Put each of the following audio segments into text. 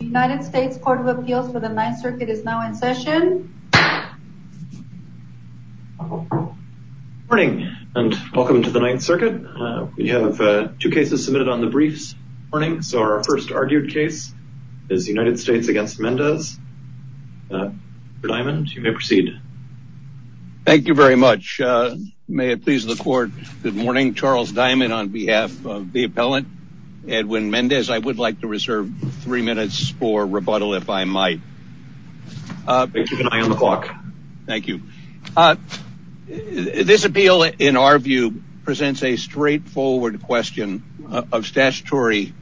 United States Court of Appeals for the Ninth Circuit is now in session. Good morning and welcome to the Ninth Circuit. We have two cases submitted on the briefs morning. So our first argued case is the United States against Mendez. Mr. Diamond, you may proceed. Thank you very much. May it please the court. Good morning, Charles Diamond on behalf of the appellant Edwin Mendez. I would like to reserve three minutes for rebuttal if I might. Thank you. This appeal in our view presents a straightforward question of statutory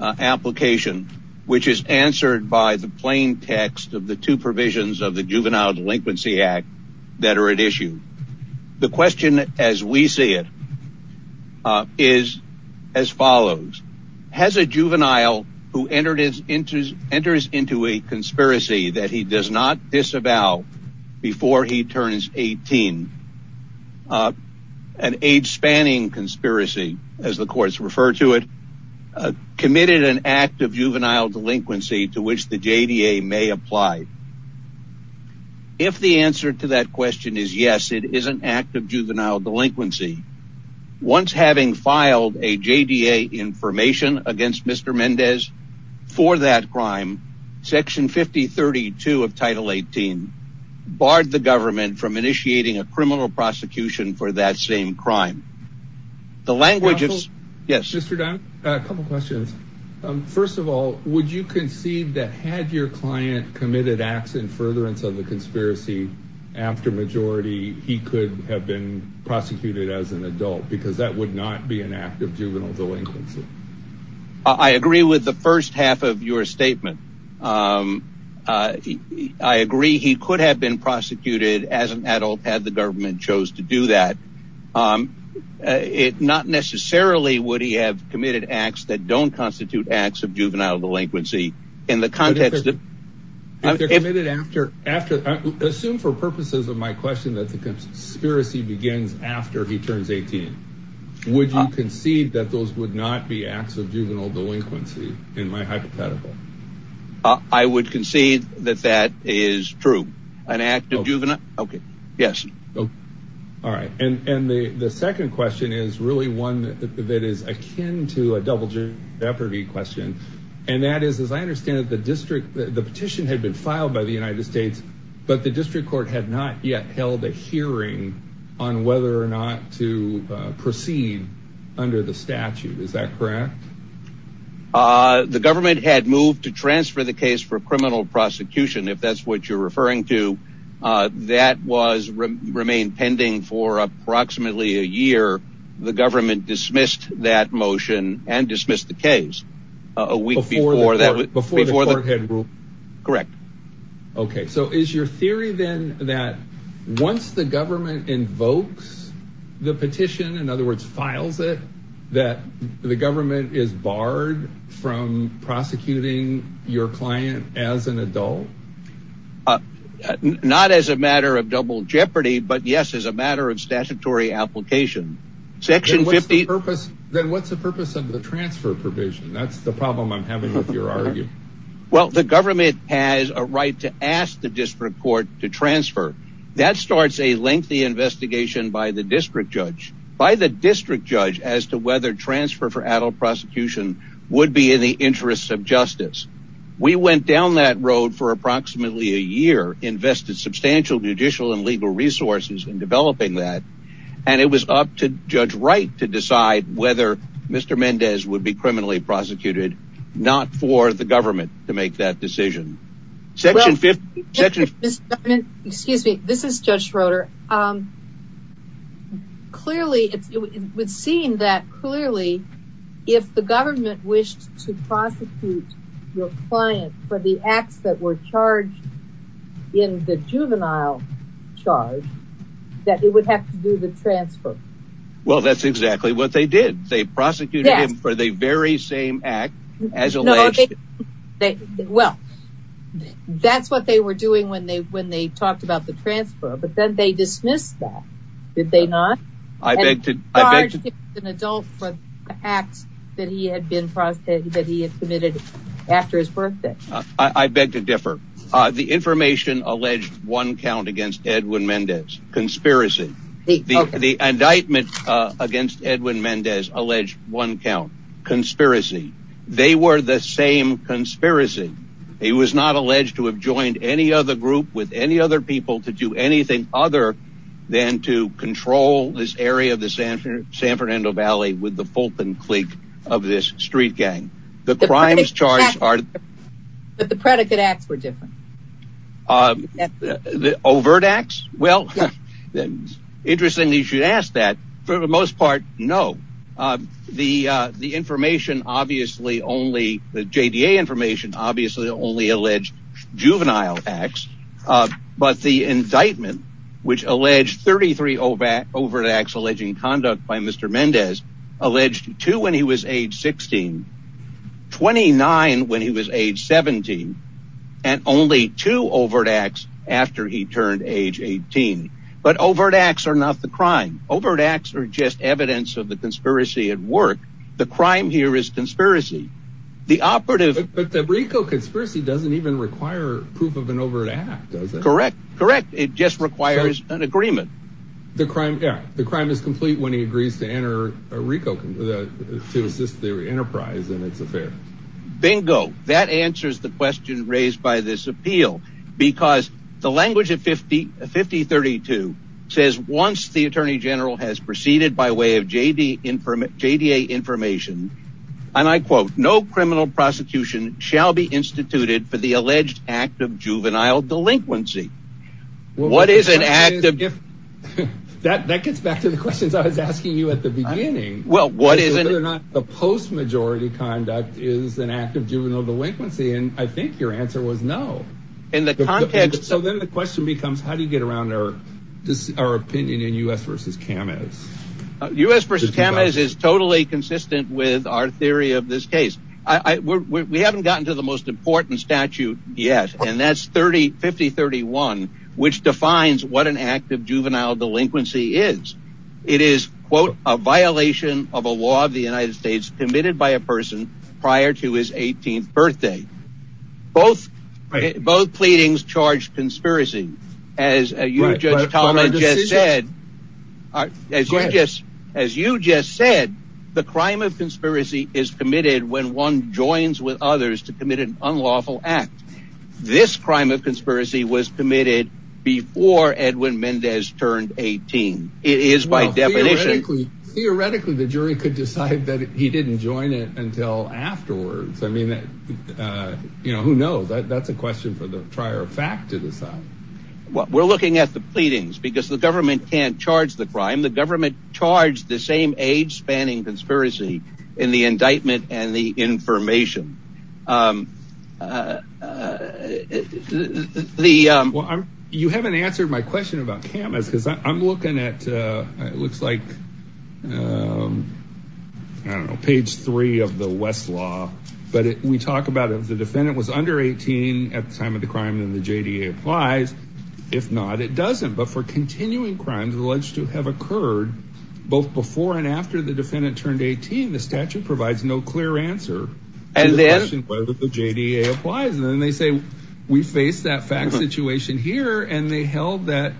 application which is answered by the plain text of the two provisions of the Juvenile Delinquency Act that are at issue. The question as we see it is as follows. Has a juvenile who enters into a conspiracy that he does not disavow before he turns 18, an age spanning conspiracy as the courts refer to it, committed an act of juvenile delinquency to which the JDA may apply? If the answer to that question is yes, it is an act of juvenile delinquency. Once having filed a JDA information against Mr. Mendez for that crime, Section 5032 of Title 18 barred the government from initiating a criminal prosecution for that same crime. The language is... Mr. Diamond, a couple questions. First of all, would you concede that had your client committed acts in furtherance of the conspiracy after majority, he could have been prosecuted as an adult because that would not be an act of juvenile delinquency? I agree with the first half of your statement. I agree he could have been prosecuted as an adult had the government chose to do that. Not necessarily would he have committed acts that don't constitute acts of juvenile delinquency in the context of... Assume for purposes of my question that the conspiracy begins after he turns 18. Would you concede that those would not be acts of juvenile delinquency in my hypothetical? I would concede that that is true. An act of juvenile... Okay. Yes. All right. And the second question is really one that is akin to a double jeopardy question. And that is, as I understand it, the petition had been filed by the United States, but the district court had not yet held a hearing on whether or not to proceed under the statute. Is that correct? The government had moved to transfer the case for criminal prosecution, if that's what you're referring to. That remained pending for approximately a year. The government dismissed that motion and dismissed the case a week before that. Correct. Okay. So is your theory then that once the government invokes the petition, in other words, files it, that the government is barred from prosecuting your client as an adult? Uh, not as a matter of double jeopardy, but yes, as a matter of statutory application. Section 50... Then what's the purpose of the transfer provision? That's the problem I'm having with your argument. Well, the government has a right to ask the district court to transfer. That starts a lengthy investigation by the district judge. By the district judge as to whether transfer for adult prosecution would be in the interests of justice. We went down that road for approximately a year, invested substantial judicial and legal resources in developing that, and it was up to Judge Wright to decide whether Mr. Mendez would be criminally prosecuted, not for the government to make that decision. Section 50... Excuse me. This is Judge Schroeder. Clearly, it would seem that clearly, if the government wished to prosecute your client for the acts that were charged in the juvenile charge, that it would have to do the transfer. Well, that's exactly what they did. They prosecuted him for the very same act as alleged. Well, that's what they were doing when they when they talked about the transfer, but then they dismissed that, did they not? I beg to differ. The information alleged one count against Edwin Mendez. Conspiracy. The indictment against Edwin Mendez alleged one count. Conspiracy. They were the same conspiracy. He was not alleged to have joined any other group with any other people to do anything other than to control this area of the San Fernando Valley with the Fulton clique of this street gang. The crimes charged are... But the predicate acts were different. The overt acts? Well, interestingly, you should ask that. For the most part, no. The information obviously only... The JDA information obviously only alleged juvenile acts, but the indictment, which alleged 33 overt acts alleging conduct by Mr. Mendez, alleged two when he was age 16, 29 when he was age 17, and only two overt acts after he turned age 18. But overt acts are not the crime. Overt acts are just evidence of the conspiracy at work. The crime here is conspiracy. The operative... But the Rico conspiracy doesn't even require proof of an overt act, does it? Correct. Correct. It just requires an agreement. The crime... Yeah. The crime is complete when he agrees to enter a Rico... To assist the enterprise in its affair. Bingo. That answers the question raised by this appeal because the language of 5032 says once the attorney general has proceeded by way of JDA information, and I quote, no criminal prosecution shall be instituted for the alleged act of juvenile delinquency. What is an act of... That gets back to the questions I was asking you at the beginning. Well, what is... Whether or not the post-majority conduct is an act of juvenile delinquency, and I think your answer was no. In the context... So then the question becomes, how do you get around our opinion in U.S. v. Kamez? U.S. v. Kamez is totally consistent with our theory of this case. We haven't gotten to the most important statute yet, and that's 5031, which defines what an act of juvenile delinquency is. It is, quote, a violation of a law of the United States committed by a person prior to his 18th birthday. Both pleadings charge conspiracy, as you, Judge Talmadge, just said. As you just said, the crime of conspiracy is committed when one joins with others to commit an unlawful act. This crime of conspiracy was committed before Edwin Mendez turned 18. It is by definition... Theoretically, the jury could decide that he didn't join it until afterwards. I mean, who knows? That's a question for the fact to decide. We're looking at the pleadings, because the government can't charge the crime. The government charged the same age-spanning conspiracy in the indictment and the information. The... You haven't answered my question about Kamez, because I'm looking at... It looks like, I don't know, page three of the West law, but we talk about if the defendant was under 18 at the time of the crime, then the JDA applies. If not, it doesn't. But for continuing crimes alleged to have occurred both before and after the defendant turned 18, the statute provides no clear answer to the question whether the JDA applies. And then they say, we face that fact situation here, and they held that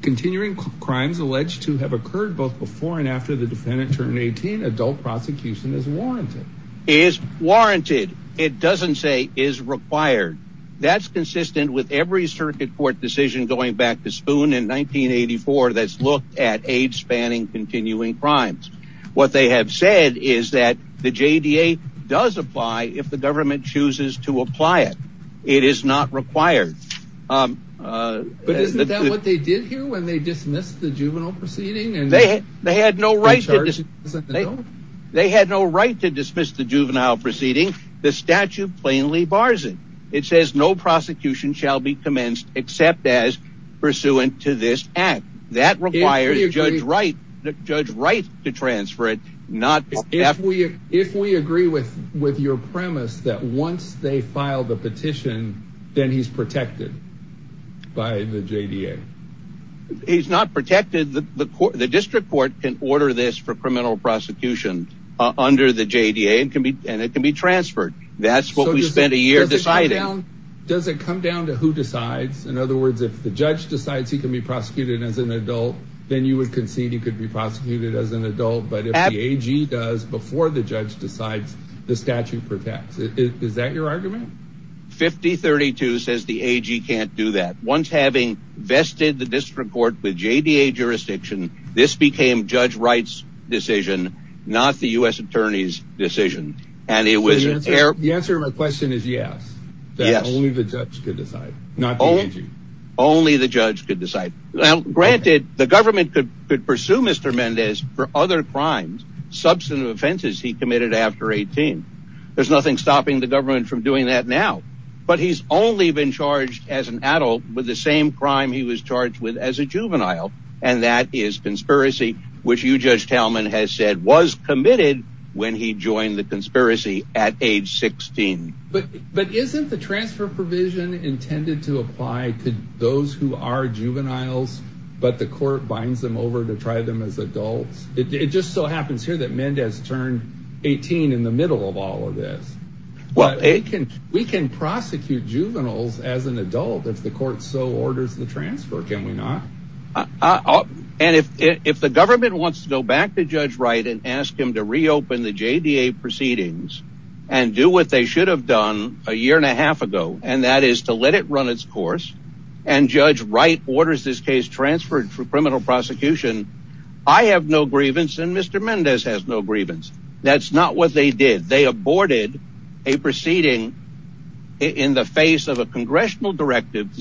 continuing crimes alleged to have occurred both before and after the defendant turned 18, adult prosecution is warranted. Is warranted. It doesn't say is required. That's consistent with every circuit court decision going back to Spoon in 1984 that's looked at age-spanning continuing crimes. What they have said is that the JDA does apply if the government chooses to apply it. It is not required. But isn't that what they did here, when they dismissed the juvenile proceeding? They had no right to dismiss the juvenile proceeding. The statute plainly bars it. It says no prosecution shall be commenced except as pursuant to this act. That requires Judge Wright to transfer it. If we agree with with your premise that once they file the petition, then he's protected by the JDA. He's not protected. The district court can order this for criminal prosecution under the JDA, and it can be transferred. That's what we spent a year deciding. Does it come down to who decides? In other words, if the judge decides he can be prosecuted as an adult, then you would concede he could be prosecuted as an adult. But if the AG does before the judge decides, the statute protects. Is that your argument? 5032 says the AG can't do that. Once having vested the district court with JDA jurisdiction, this became Judge Wright's decision, not the U.S. Attorney's decision. The answer to my question is yes. Only the judge could decide. Granted, the government could pursue Mr. Mendez for other crimes, substantive offenses he committed after 18. There's nothing stopping the government from doing that now. But he's only been charged as an adult with the same crime he was charged with as a juvenile, and that is conspiracy, which you, Judge Talman, has said was committed when he joined the conspiracy at age 16. But isn't the transfer provision intended to apply to those who are juveniles, but the court binds them over to try them as adults? It just so happens here that Mendez turned 18 in the middle of all of this. We can prosecute juveniles as an adult if the court so orders the transfer, can we not? And if the government wants to go back to Judge Wright and ask him to reopen the JDA proceedings and do what they should have done a year and a half ago, and that is to let it run its course, and Judge Wright orders this case transferred for criminal prosecution, I have no grievance, and Mr. Mendez has no grievance. That's not what they did. They aborted a proceeding in the face of a congressional directive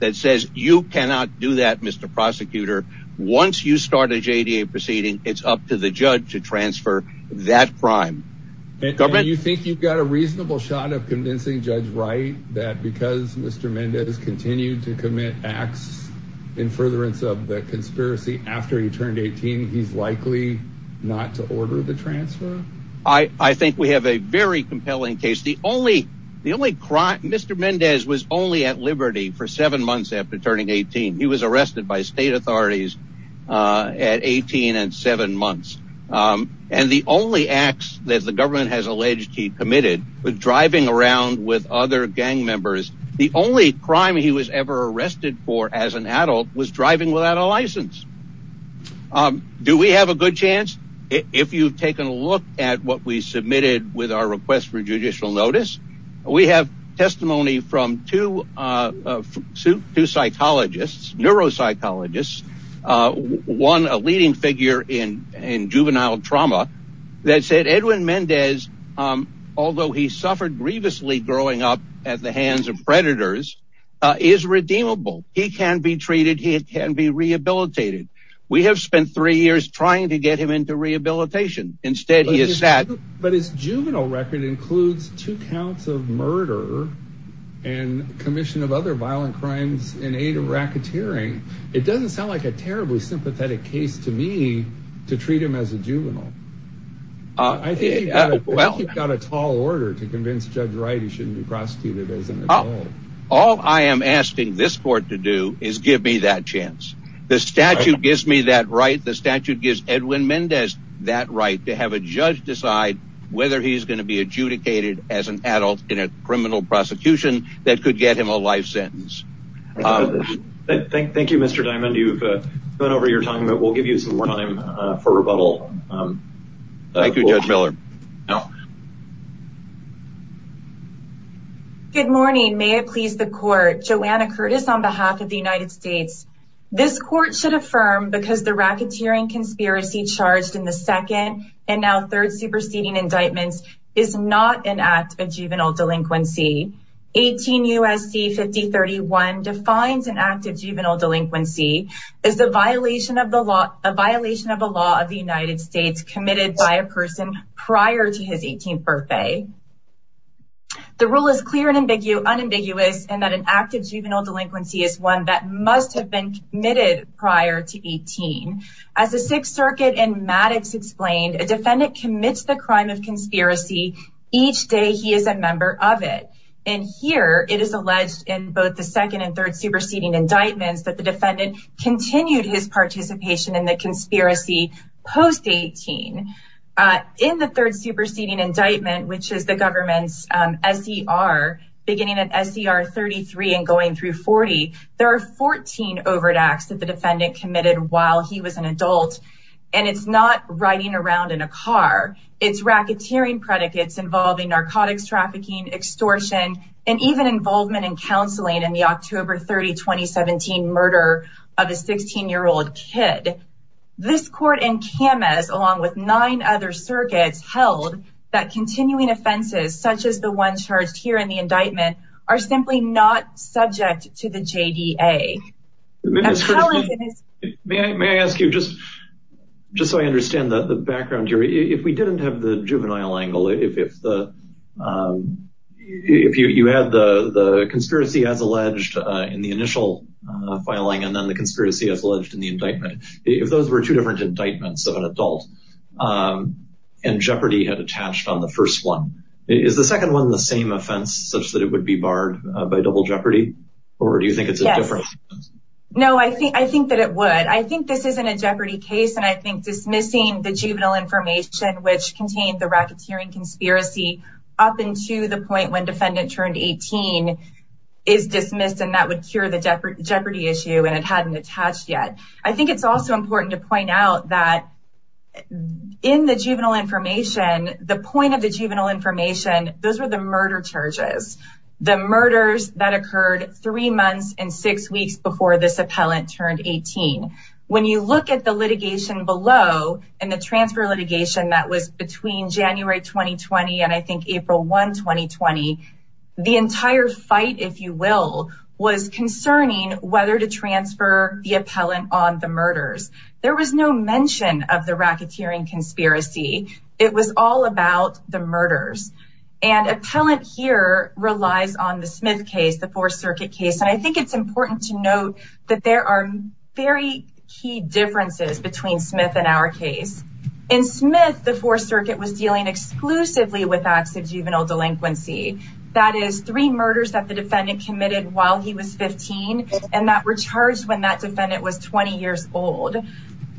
that says you cannot do that, Mr. Prosecutor. Once you start a JDA proceeding, it's up to the judge to transfer that crime. And you think you've got a reasonable shot of convincing Judge Wright that because Mr. Mendez continued to commit acts in furtherance of the conspiracy after he turned 18, he's likely not to order the transfer? I think we have a very compelling case. Mr. Mendez was only at liberty for seven months after turning 18. He was arrested by state authorities at 18 and seven months. And the only acts that the government has alleged he committed was driving around with other gang members. The only crime he was ever arrested for as an adult was driving without a license. Do we have a good chance? If you've taken a look at what we submitted with our request for judicial notice, we have testimony from two psychologists, neuropsychologists, one a leading figure in juvenile trauma that said Edwin Mendez, although he suffered grievously growing up at the hands of predators, is redeemable. He can be treated. He can be rehabilitated. We have spent three years trying to get him into rehabilitation. Instead, he is sad. But his juvenile record includes two counts of murder and commission of other violent crimes in aid of racketeering. It doesn't sound like a terribly sympathetic case to me at all. I think you've got a tall order to convince Judge Wright he shouldn't be prosecuted as an adult. All I am asking this court to do is give me that chance. The statute gives me that right. The statute gives Edwin Mendez that right to have a judge decide whether he's going to be adjudicated as an adult in a criminal prosecution that could get him a life sentence. Thank you, Mr. Diamond. You've gone over your time, but we'll give you some more time for rebuttal. Thank you, Judge Miller. Good morning. May it please the court. Joanna Curtis on behalf of the United States. This court should affirm because the racketeering conspiracy charged in the second and now third superseding indictments is not an act of juvenile delinquency. 18 U.S.C. 5031 defines an act of juvenile delinquency as a violation of a law of the United States committed by a person prior to his 18th birthday. The rule is clear and unambiguous in that an act of juvenile delinquency is one that must have been committed prior to 18. As the Sixth Circuit and Maddox explained, a defendant commits the crime of conspiracy each day he is a member of it. And here it is alleged in both the second and third superseding indictments that the defendant continued his participation in the conspiracy post-18. In the third superseding indictment, which is the government's S.E.R., beginning at S.E.R. 33 and going through 40, there are 14 overt acts that the defendant committed while he was an adult. And it's not riding around in a car. It's racketeering predicates involving narcotics trafficking, extortion, and even involvement in counseling in the October 30, 2017 murder of a 16-year-old kid. This court and CAMAS, along with nine other circuits, held that continuing offenses, such as the one charged here in the indictment, are simply not subject to the JDA. May I ask you, just so I understand the background here, if we didn't have the juvenile angle, if you had the conspiracy as alleged in the initial filing and then the conspiracy as alleged in the indictment, if those were two different indictments of an adult and jeopardy had attached on the first one, is the second one the same offense such that it would be barred by double jeopardy? Or do you think it's a difference? Yes. No, I think that it would. I think this isn't a jeopardy case, and I think dismissing the juvenile information, which contained the racketeering conspiracy up until the point when defendant turned 18 is dismissed, and that would cure the jeopardy issue and it hadn't attached yet. I think it's also important to point out that in the juvenile information, the point of information, those were the murder charges, the murders that occurred three months and six weeks before this appellant turned 18. When you look at the litigation below and the transfer litigation that was between January 2020 and I think April 1, 2020, the entire fight, if you will, was concerning whether to transfer the appellant on the murders. There was no mention of the murders. Appellant here relies on the Smith case, the Fourth Circuit case, and I think it's important to note that there are very key differences between Smith and our case. In Smith, the Fourth Circuit was dealing exclusively with acts of juvenile delinquency, that is, three murders that the defendant committed while he was 15 and that were charged when that defendant was 20 years old.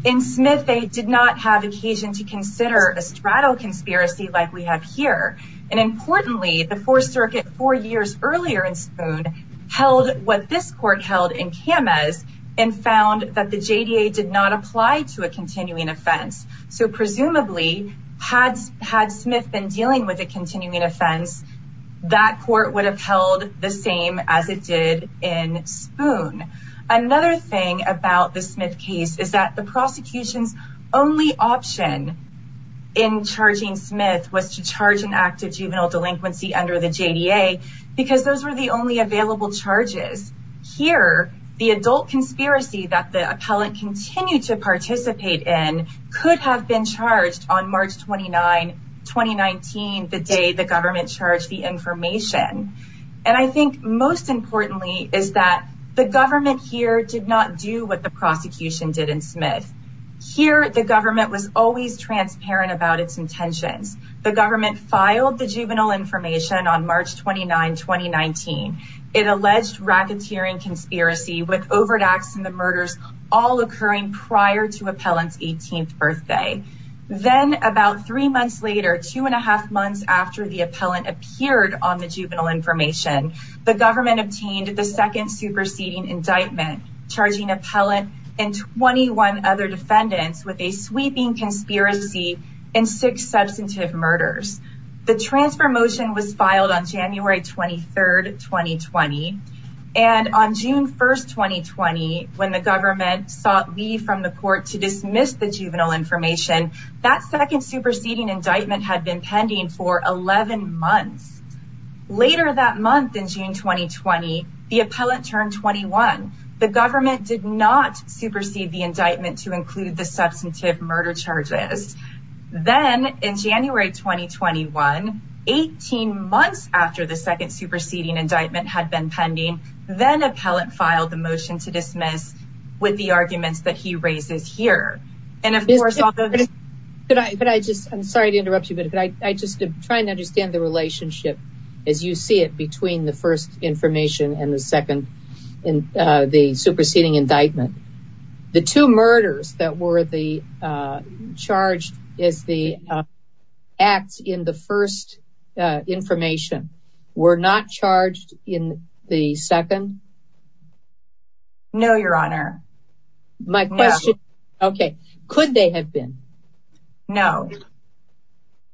In Smith, they did not have occasion to consider a straddle conspiracy like we have here. Importantly, the Fourth Circuit, four years earlier in Spoon, held what this court held in Kamez and found that the JDA did not apply to a continuing offense. Presumably, had Smith been dealing with a continuing offense, that court would have held the same as it did in Spoon. Another thing about the Smith case is that the prosecution's only option in charging Smith was to charge an act of juvenile delinquency under the JDA because those were the only available charges. Here, the adult conspiracy that the appellant continued to participate in could have been charged on March 29, 2019, the day the government charged the information. And I think most importantly is that the government here did do what the prosecution did in Smith. Here, the government was always transparent about its intentions. The government filed the juvenile information on March 29, 2019. It alleged racketeering conspiracy with overt acts and the murders all occurring prior to appellant's 18th birthday. Then, about three months later, two and a half months after the appellant appeared on the juvenile information, the government obtained the second superseding indictment, charging appellant and 21 other defendants with a sweeping conspiracy and six substantive murders. The transfer motion was filed on January 23, 2020. And on June 1, 2020, when the government sought leave from the court to dismiss the juvenile information, that second superseding indictment had been pending for 11 months. Later that month in June 2020, the appellant turned 21. The government did not supersede the indictment to include the substantive murder charges. Then, in January 2021, 18 months after the second superseding indictment had been pending, then appellant filed the motion to dismiss with the arguments that he raises here. And of course... Could I just, I'm sorry to interrupt you, but could I just try and understand the relationship, as you see it, between the first information and the second, and the superseding indictment. The two murders that were the charged as the acts in the first information were not charged in the second? No, your honor. My question, okay, could they have been? No.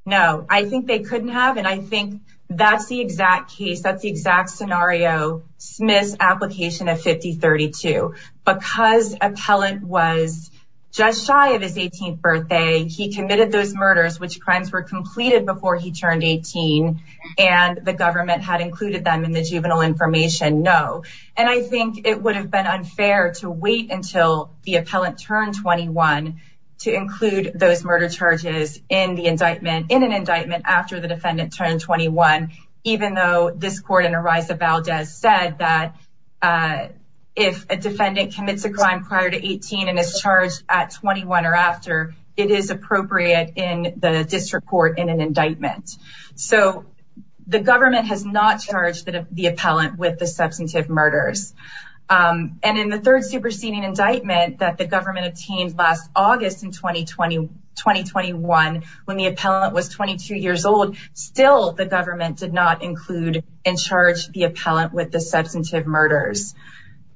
No, I think they couldn't have, and I think that's the exact case, that's the exact scenario, Smith's application of 5032. Because appellant was just shy of his 18th birthday, he committed those murders, which crimes were completed before he turned 18, and the government had included them in the juvenile information, no. And I think it would have been unfair to wait until the appellant turned 21 to include those murder charges in the indictment, in an indictment after the defendant turned 21, even though this court in Ariza Valdez said that if a defendant commits a crime prior to 18 and is charged at 21 or after, it is appropriate in the district court in an indictment. So the government has not charged the appellant with the substantive murders. And in the third superseding indictment that the government obtained last August in 2020, 2021, when the appellant was 22 years old, still the government did not include and charge the appellant with the substantive murders.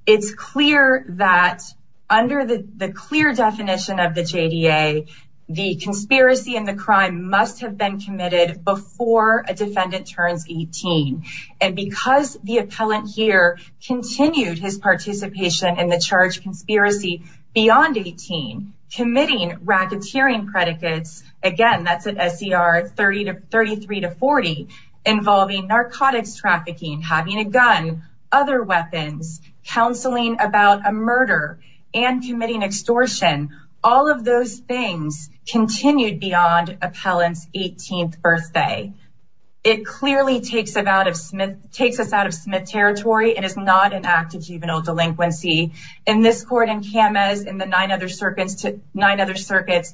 It's clear that under the clear definition of the JDA, the conspiracy and the crime must have been committed before a defendant turns 18. And because the appellant here continued his participation in the charge conspiracy beyond 18, committing racketeering predicates, again, that's an SCR 33 to 40, involving narcotics trafficking, having a gun, other weapons, counseling about a murder, and committing extortion, all of those things continued beyond appellant's 18th birthday. It clearly takes us out of Smith territory and is not an act of juvenile delinquency. In this court in Kamez, in the nine other circuits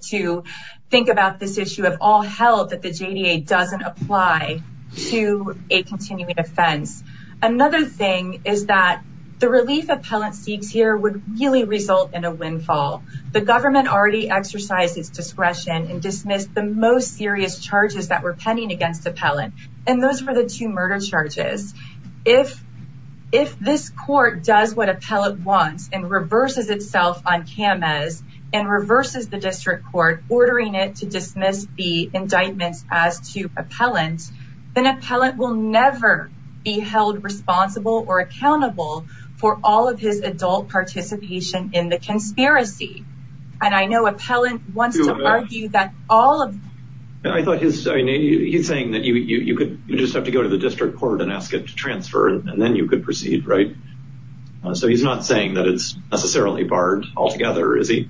to think about this issue of all hell that the JDA doesn't apply to a continuing offense. Another thing is that the relief appellant seeks here would really result in a windfall. The government already exercised its discretion and dismissed the most serious charges that were pending against appellant. And those were the two murder charges. If this court does what appellant wants and reverses itself on Kamez and reverses the district court, ordering it to dismiss the indictments as to appellant, then appellant will never be held responsible or accountable for all of his adult participation in the conspiracy. And I know appellant wants to argue that all of... I thought he's saying that you could just have to go to the district court and ask it to transfer, and then you could proceed, right? So he's not saying that it's necessarily barred altogether, is he?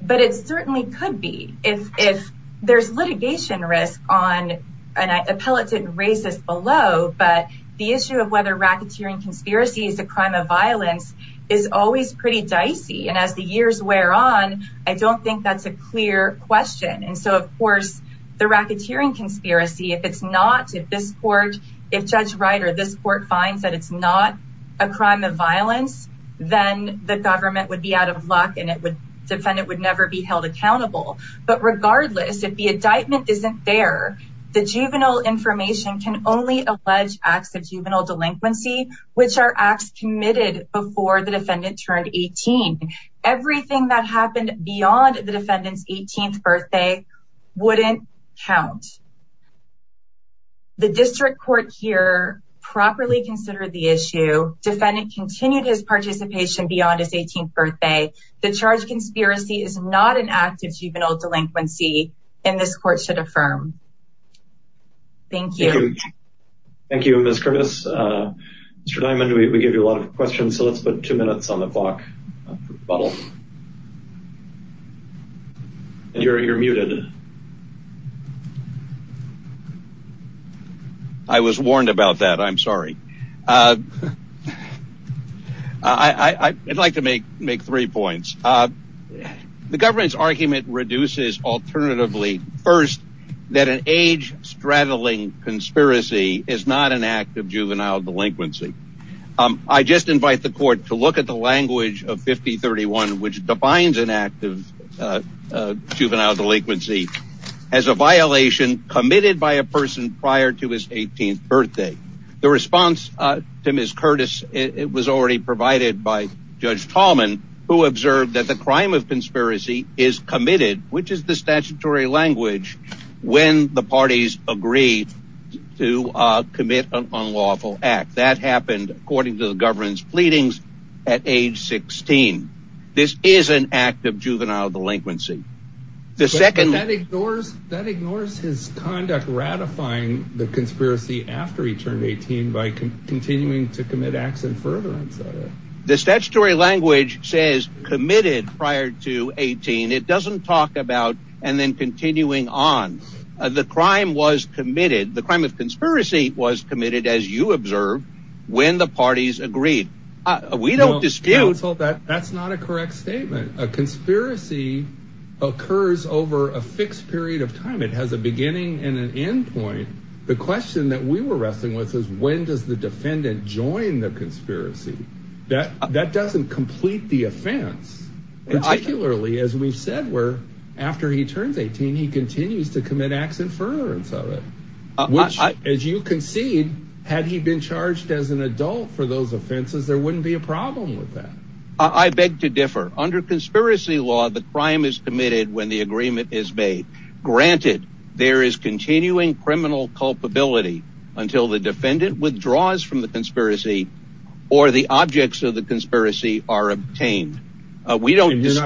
But it certainly could be. If there's litigation risk on an appellate racist below, but the issue of whether racketeering conspiracy is a crime of violence is always pretty dicey. And as the years wear on, I don't think that's a clear question. And so, of course, the racketeering conspiracy, if it's not, if this court, if Judge Ryder, this court finds that it's not a crime of violence, then the government would be out of luck and it would... defendant would never be held accountable. But regardless, if the indictment isn't there, the juvenile information can only allege acts of juvenile delinquency, which are acts committed before the defendant turned 18. Everything that happened beyond the defendant's 18th birthday wouldn't count. The district court here properly considered the issue. Defendant continued his participation beyond his 18th birthday. The charge conspiracy is not an act of juvenile delinquency, and this court should affirm. Thank you. Thank you, Ms. Curtis. Mr. Diamond, we gave you a lot of questions, so let's put two minutes on the clock. And you're muted. I was warned about that. I'm sorry. I'd like to make three points. The government's argument reduces alternatively, first, that an age straddling conspiracy is not an act of juvenile delinquency. I just invite the court to look at the language of 5031, which defines an act of juvenile delinquency as a violation committed by a person prior to his 18th birthday. The response to Ms. Curtis, it was already provided by Judge Tallman, who observed that crime of conspiracy is committed, which is the statutory language, when the parties agree to commit an unlawful act. That happened, according to the government's pleadings, at age 16. This is an act of juvenile delinquency. That ignores his conduct ratifying the conspiracy after he turned 18 by continuing to commit acts of furtherance. The statutory language says committed prior to 18. It doesn't talk about and then continuing on. The crime was committed. The crime of conspiracy was committed, as you observed, when the parties agreed. We don't dispute that. That's not a correct statement. A conspiracy occurs over a fixed period of time. It has a beginning and an end point. The question that we were wrestling with is when does the offense, particularly as we've said, where after he turns 18, he continues to commit acts of furtherance of it? Which, as you concede, had he been charged as an adult for those offenses, there wouldn't be a problem with that. I beg to differ. Under conspiracy law, the crime is committed when the agreement is made. Granted, there is continuing criminal culpability until the defendant withdraws from the conspiracy or the objects of the conspiracy are obtained. We don't dispute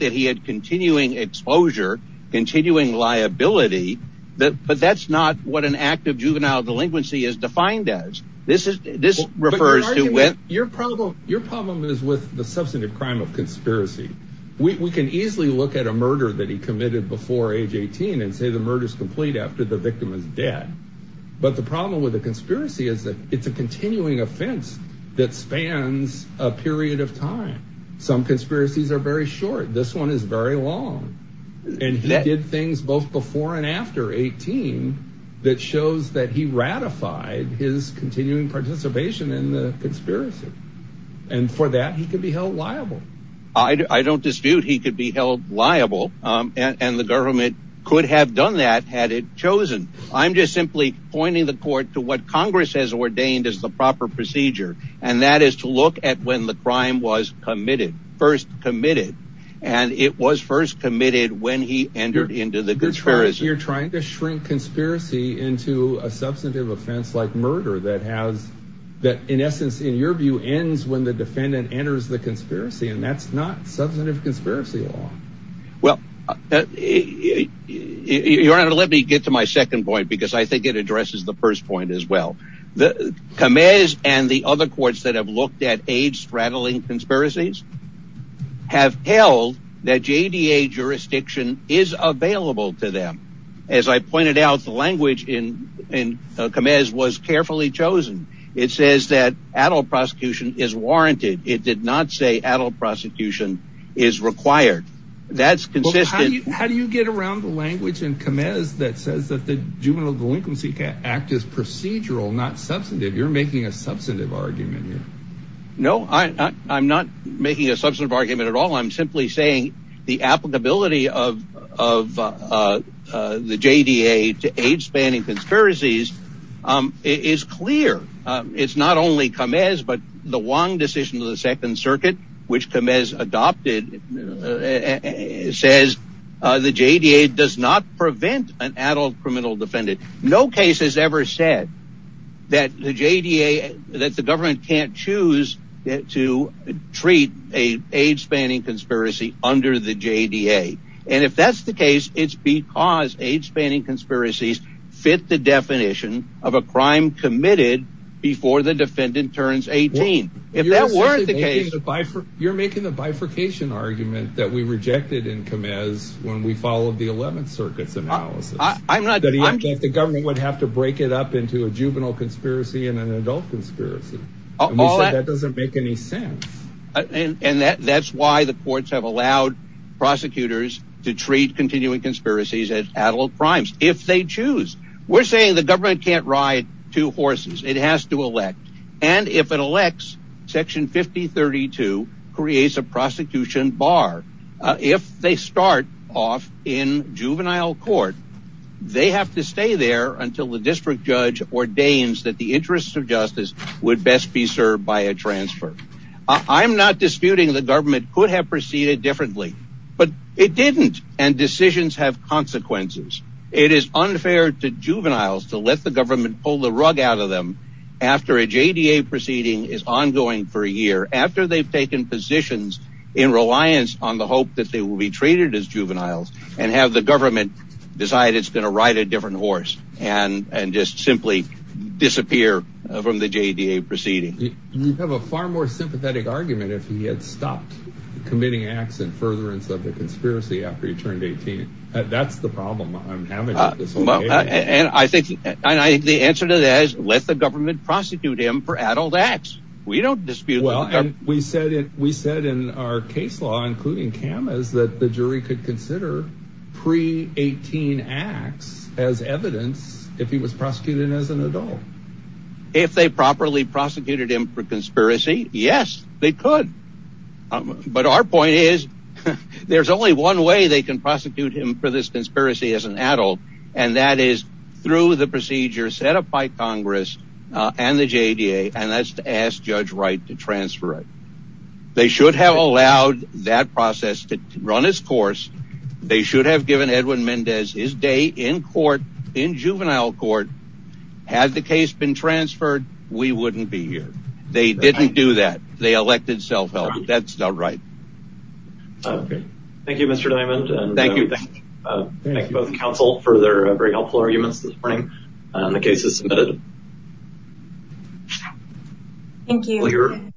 that he had continuing exposure, continuing liability, but that's not what an act of juvenile delinquency is defined as. This refers to... Your problem is with the substantive crime of conspiracy. We can easily look at a murder that he committed before age 18 and say the murder is complete after the victim is dead, but the problem with a conspiracy is that it's a continuing offense that spans a period of time. Some conspiracies are very short. This one is very long. He did things both before and after 18 that shows that he ratified his continuing participation in the conspiracy. For that, he could be held liable. I don't dispute he could be held liable and the government could have done that had it chosen. I'm just simply pointing the court to what congress has ordained as the proper procedure and that is to look at when the crime was committed, first committed, and it was first committed when he entered into the conspiracy. You're trying to shrink conspiracy into a substantive offense like murder that in essence, in your view, ends when the defendant enters the conspiracy and that's not substantive conspiracy law. Well, let me get to my second point because I think it addresses the first point as well. Kamez and the other courts that have looked at age straddling conspiracies have held that JDA jurisdiction is available to them. As I pointed out, the language in Kamez was carefully chosen. It says that adult prosecution is warranted. It did not say adult prosecution is required. That's consistent. How do you get around the language in Kamez that says that the juvenile delinquency act is procedural, not substantive? You're making a substantive argument here. No, I'm not making a substantive argument at all. I'm simply saying the applicability of the JDA to age spanning conspiracies is clear. It's not only Kamez, but the Wong decision of the second circuit, which Kamez adopted, says the JDA does not prevent an adult criminal defendant. No case has ever said that the JDA, that the government can't choose to treat an age spanning conspiracy under the JDA. And if that's the case, it's because age committed before the defendant turns 18. You're making the bifurcation argument that we rejected in Kamez when we followed the 11th circuit's analysis. The government would have to break it up into a juvenile conspiracy and an adult conspiracy. That doesn't make any sense. And that's why the courts have allowed prosecutors to treat continuing conspiracies as adult crimes if they choose. We're saying the government can't ride two horses. It has to elect. And if it elects, section 5032 creates a prosecution bar. If they start off in juvenile court, they have to stay there until the district judge ordains that the interests of justice would best be served by a transfer. I'm not disputing the government could have proceeded differently, but it didn't. And decisions have consequences. It is unfair to juveniles to let the government pull the rug out of them after a JDA proceeding is ongoing for a year after they've taken positions in reliance on the hope that they will be treated as juveniles and have the government decide it's going to ride a different horse and just simply disappear from the JDA proceeding. You have a far more sympathetic argument if he had stopped committing acts and furtherance of the conspiracy after he turned 18. That's the problem I'm having. And I think the answer to that is let the government prosecute him for adult acts. We don't dispute. Well, we said we said in our case law, including cameras, that the jury could consider pre 18 acts as evidence if he was prosecuted for conspiracy. Yes, they could. But our point is, there's only one way they can prosecute him for this conspiracy as an adult. And that is through the procedure set up by Congress and the JDA. And that's to ask Judge Wright to transfer it. They should have allowed that process to run its course. They should have given Edwin Mendez his day in court in juvenile court. Had the case been transferred, we wouldn't be here. They didn't do that. They elected self-help. That's not right. Thank you, Mr. Diamond. Thank you. Thank you both counsel for their very helpful arguments this morning. The case is submitted. Thank you.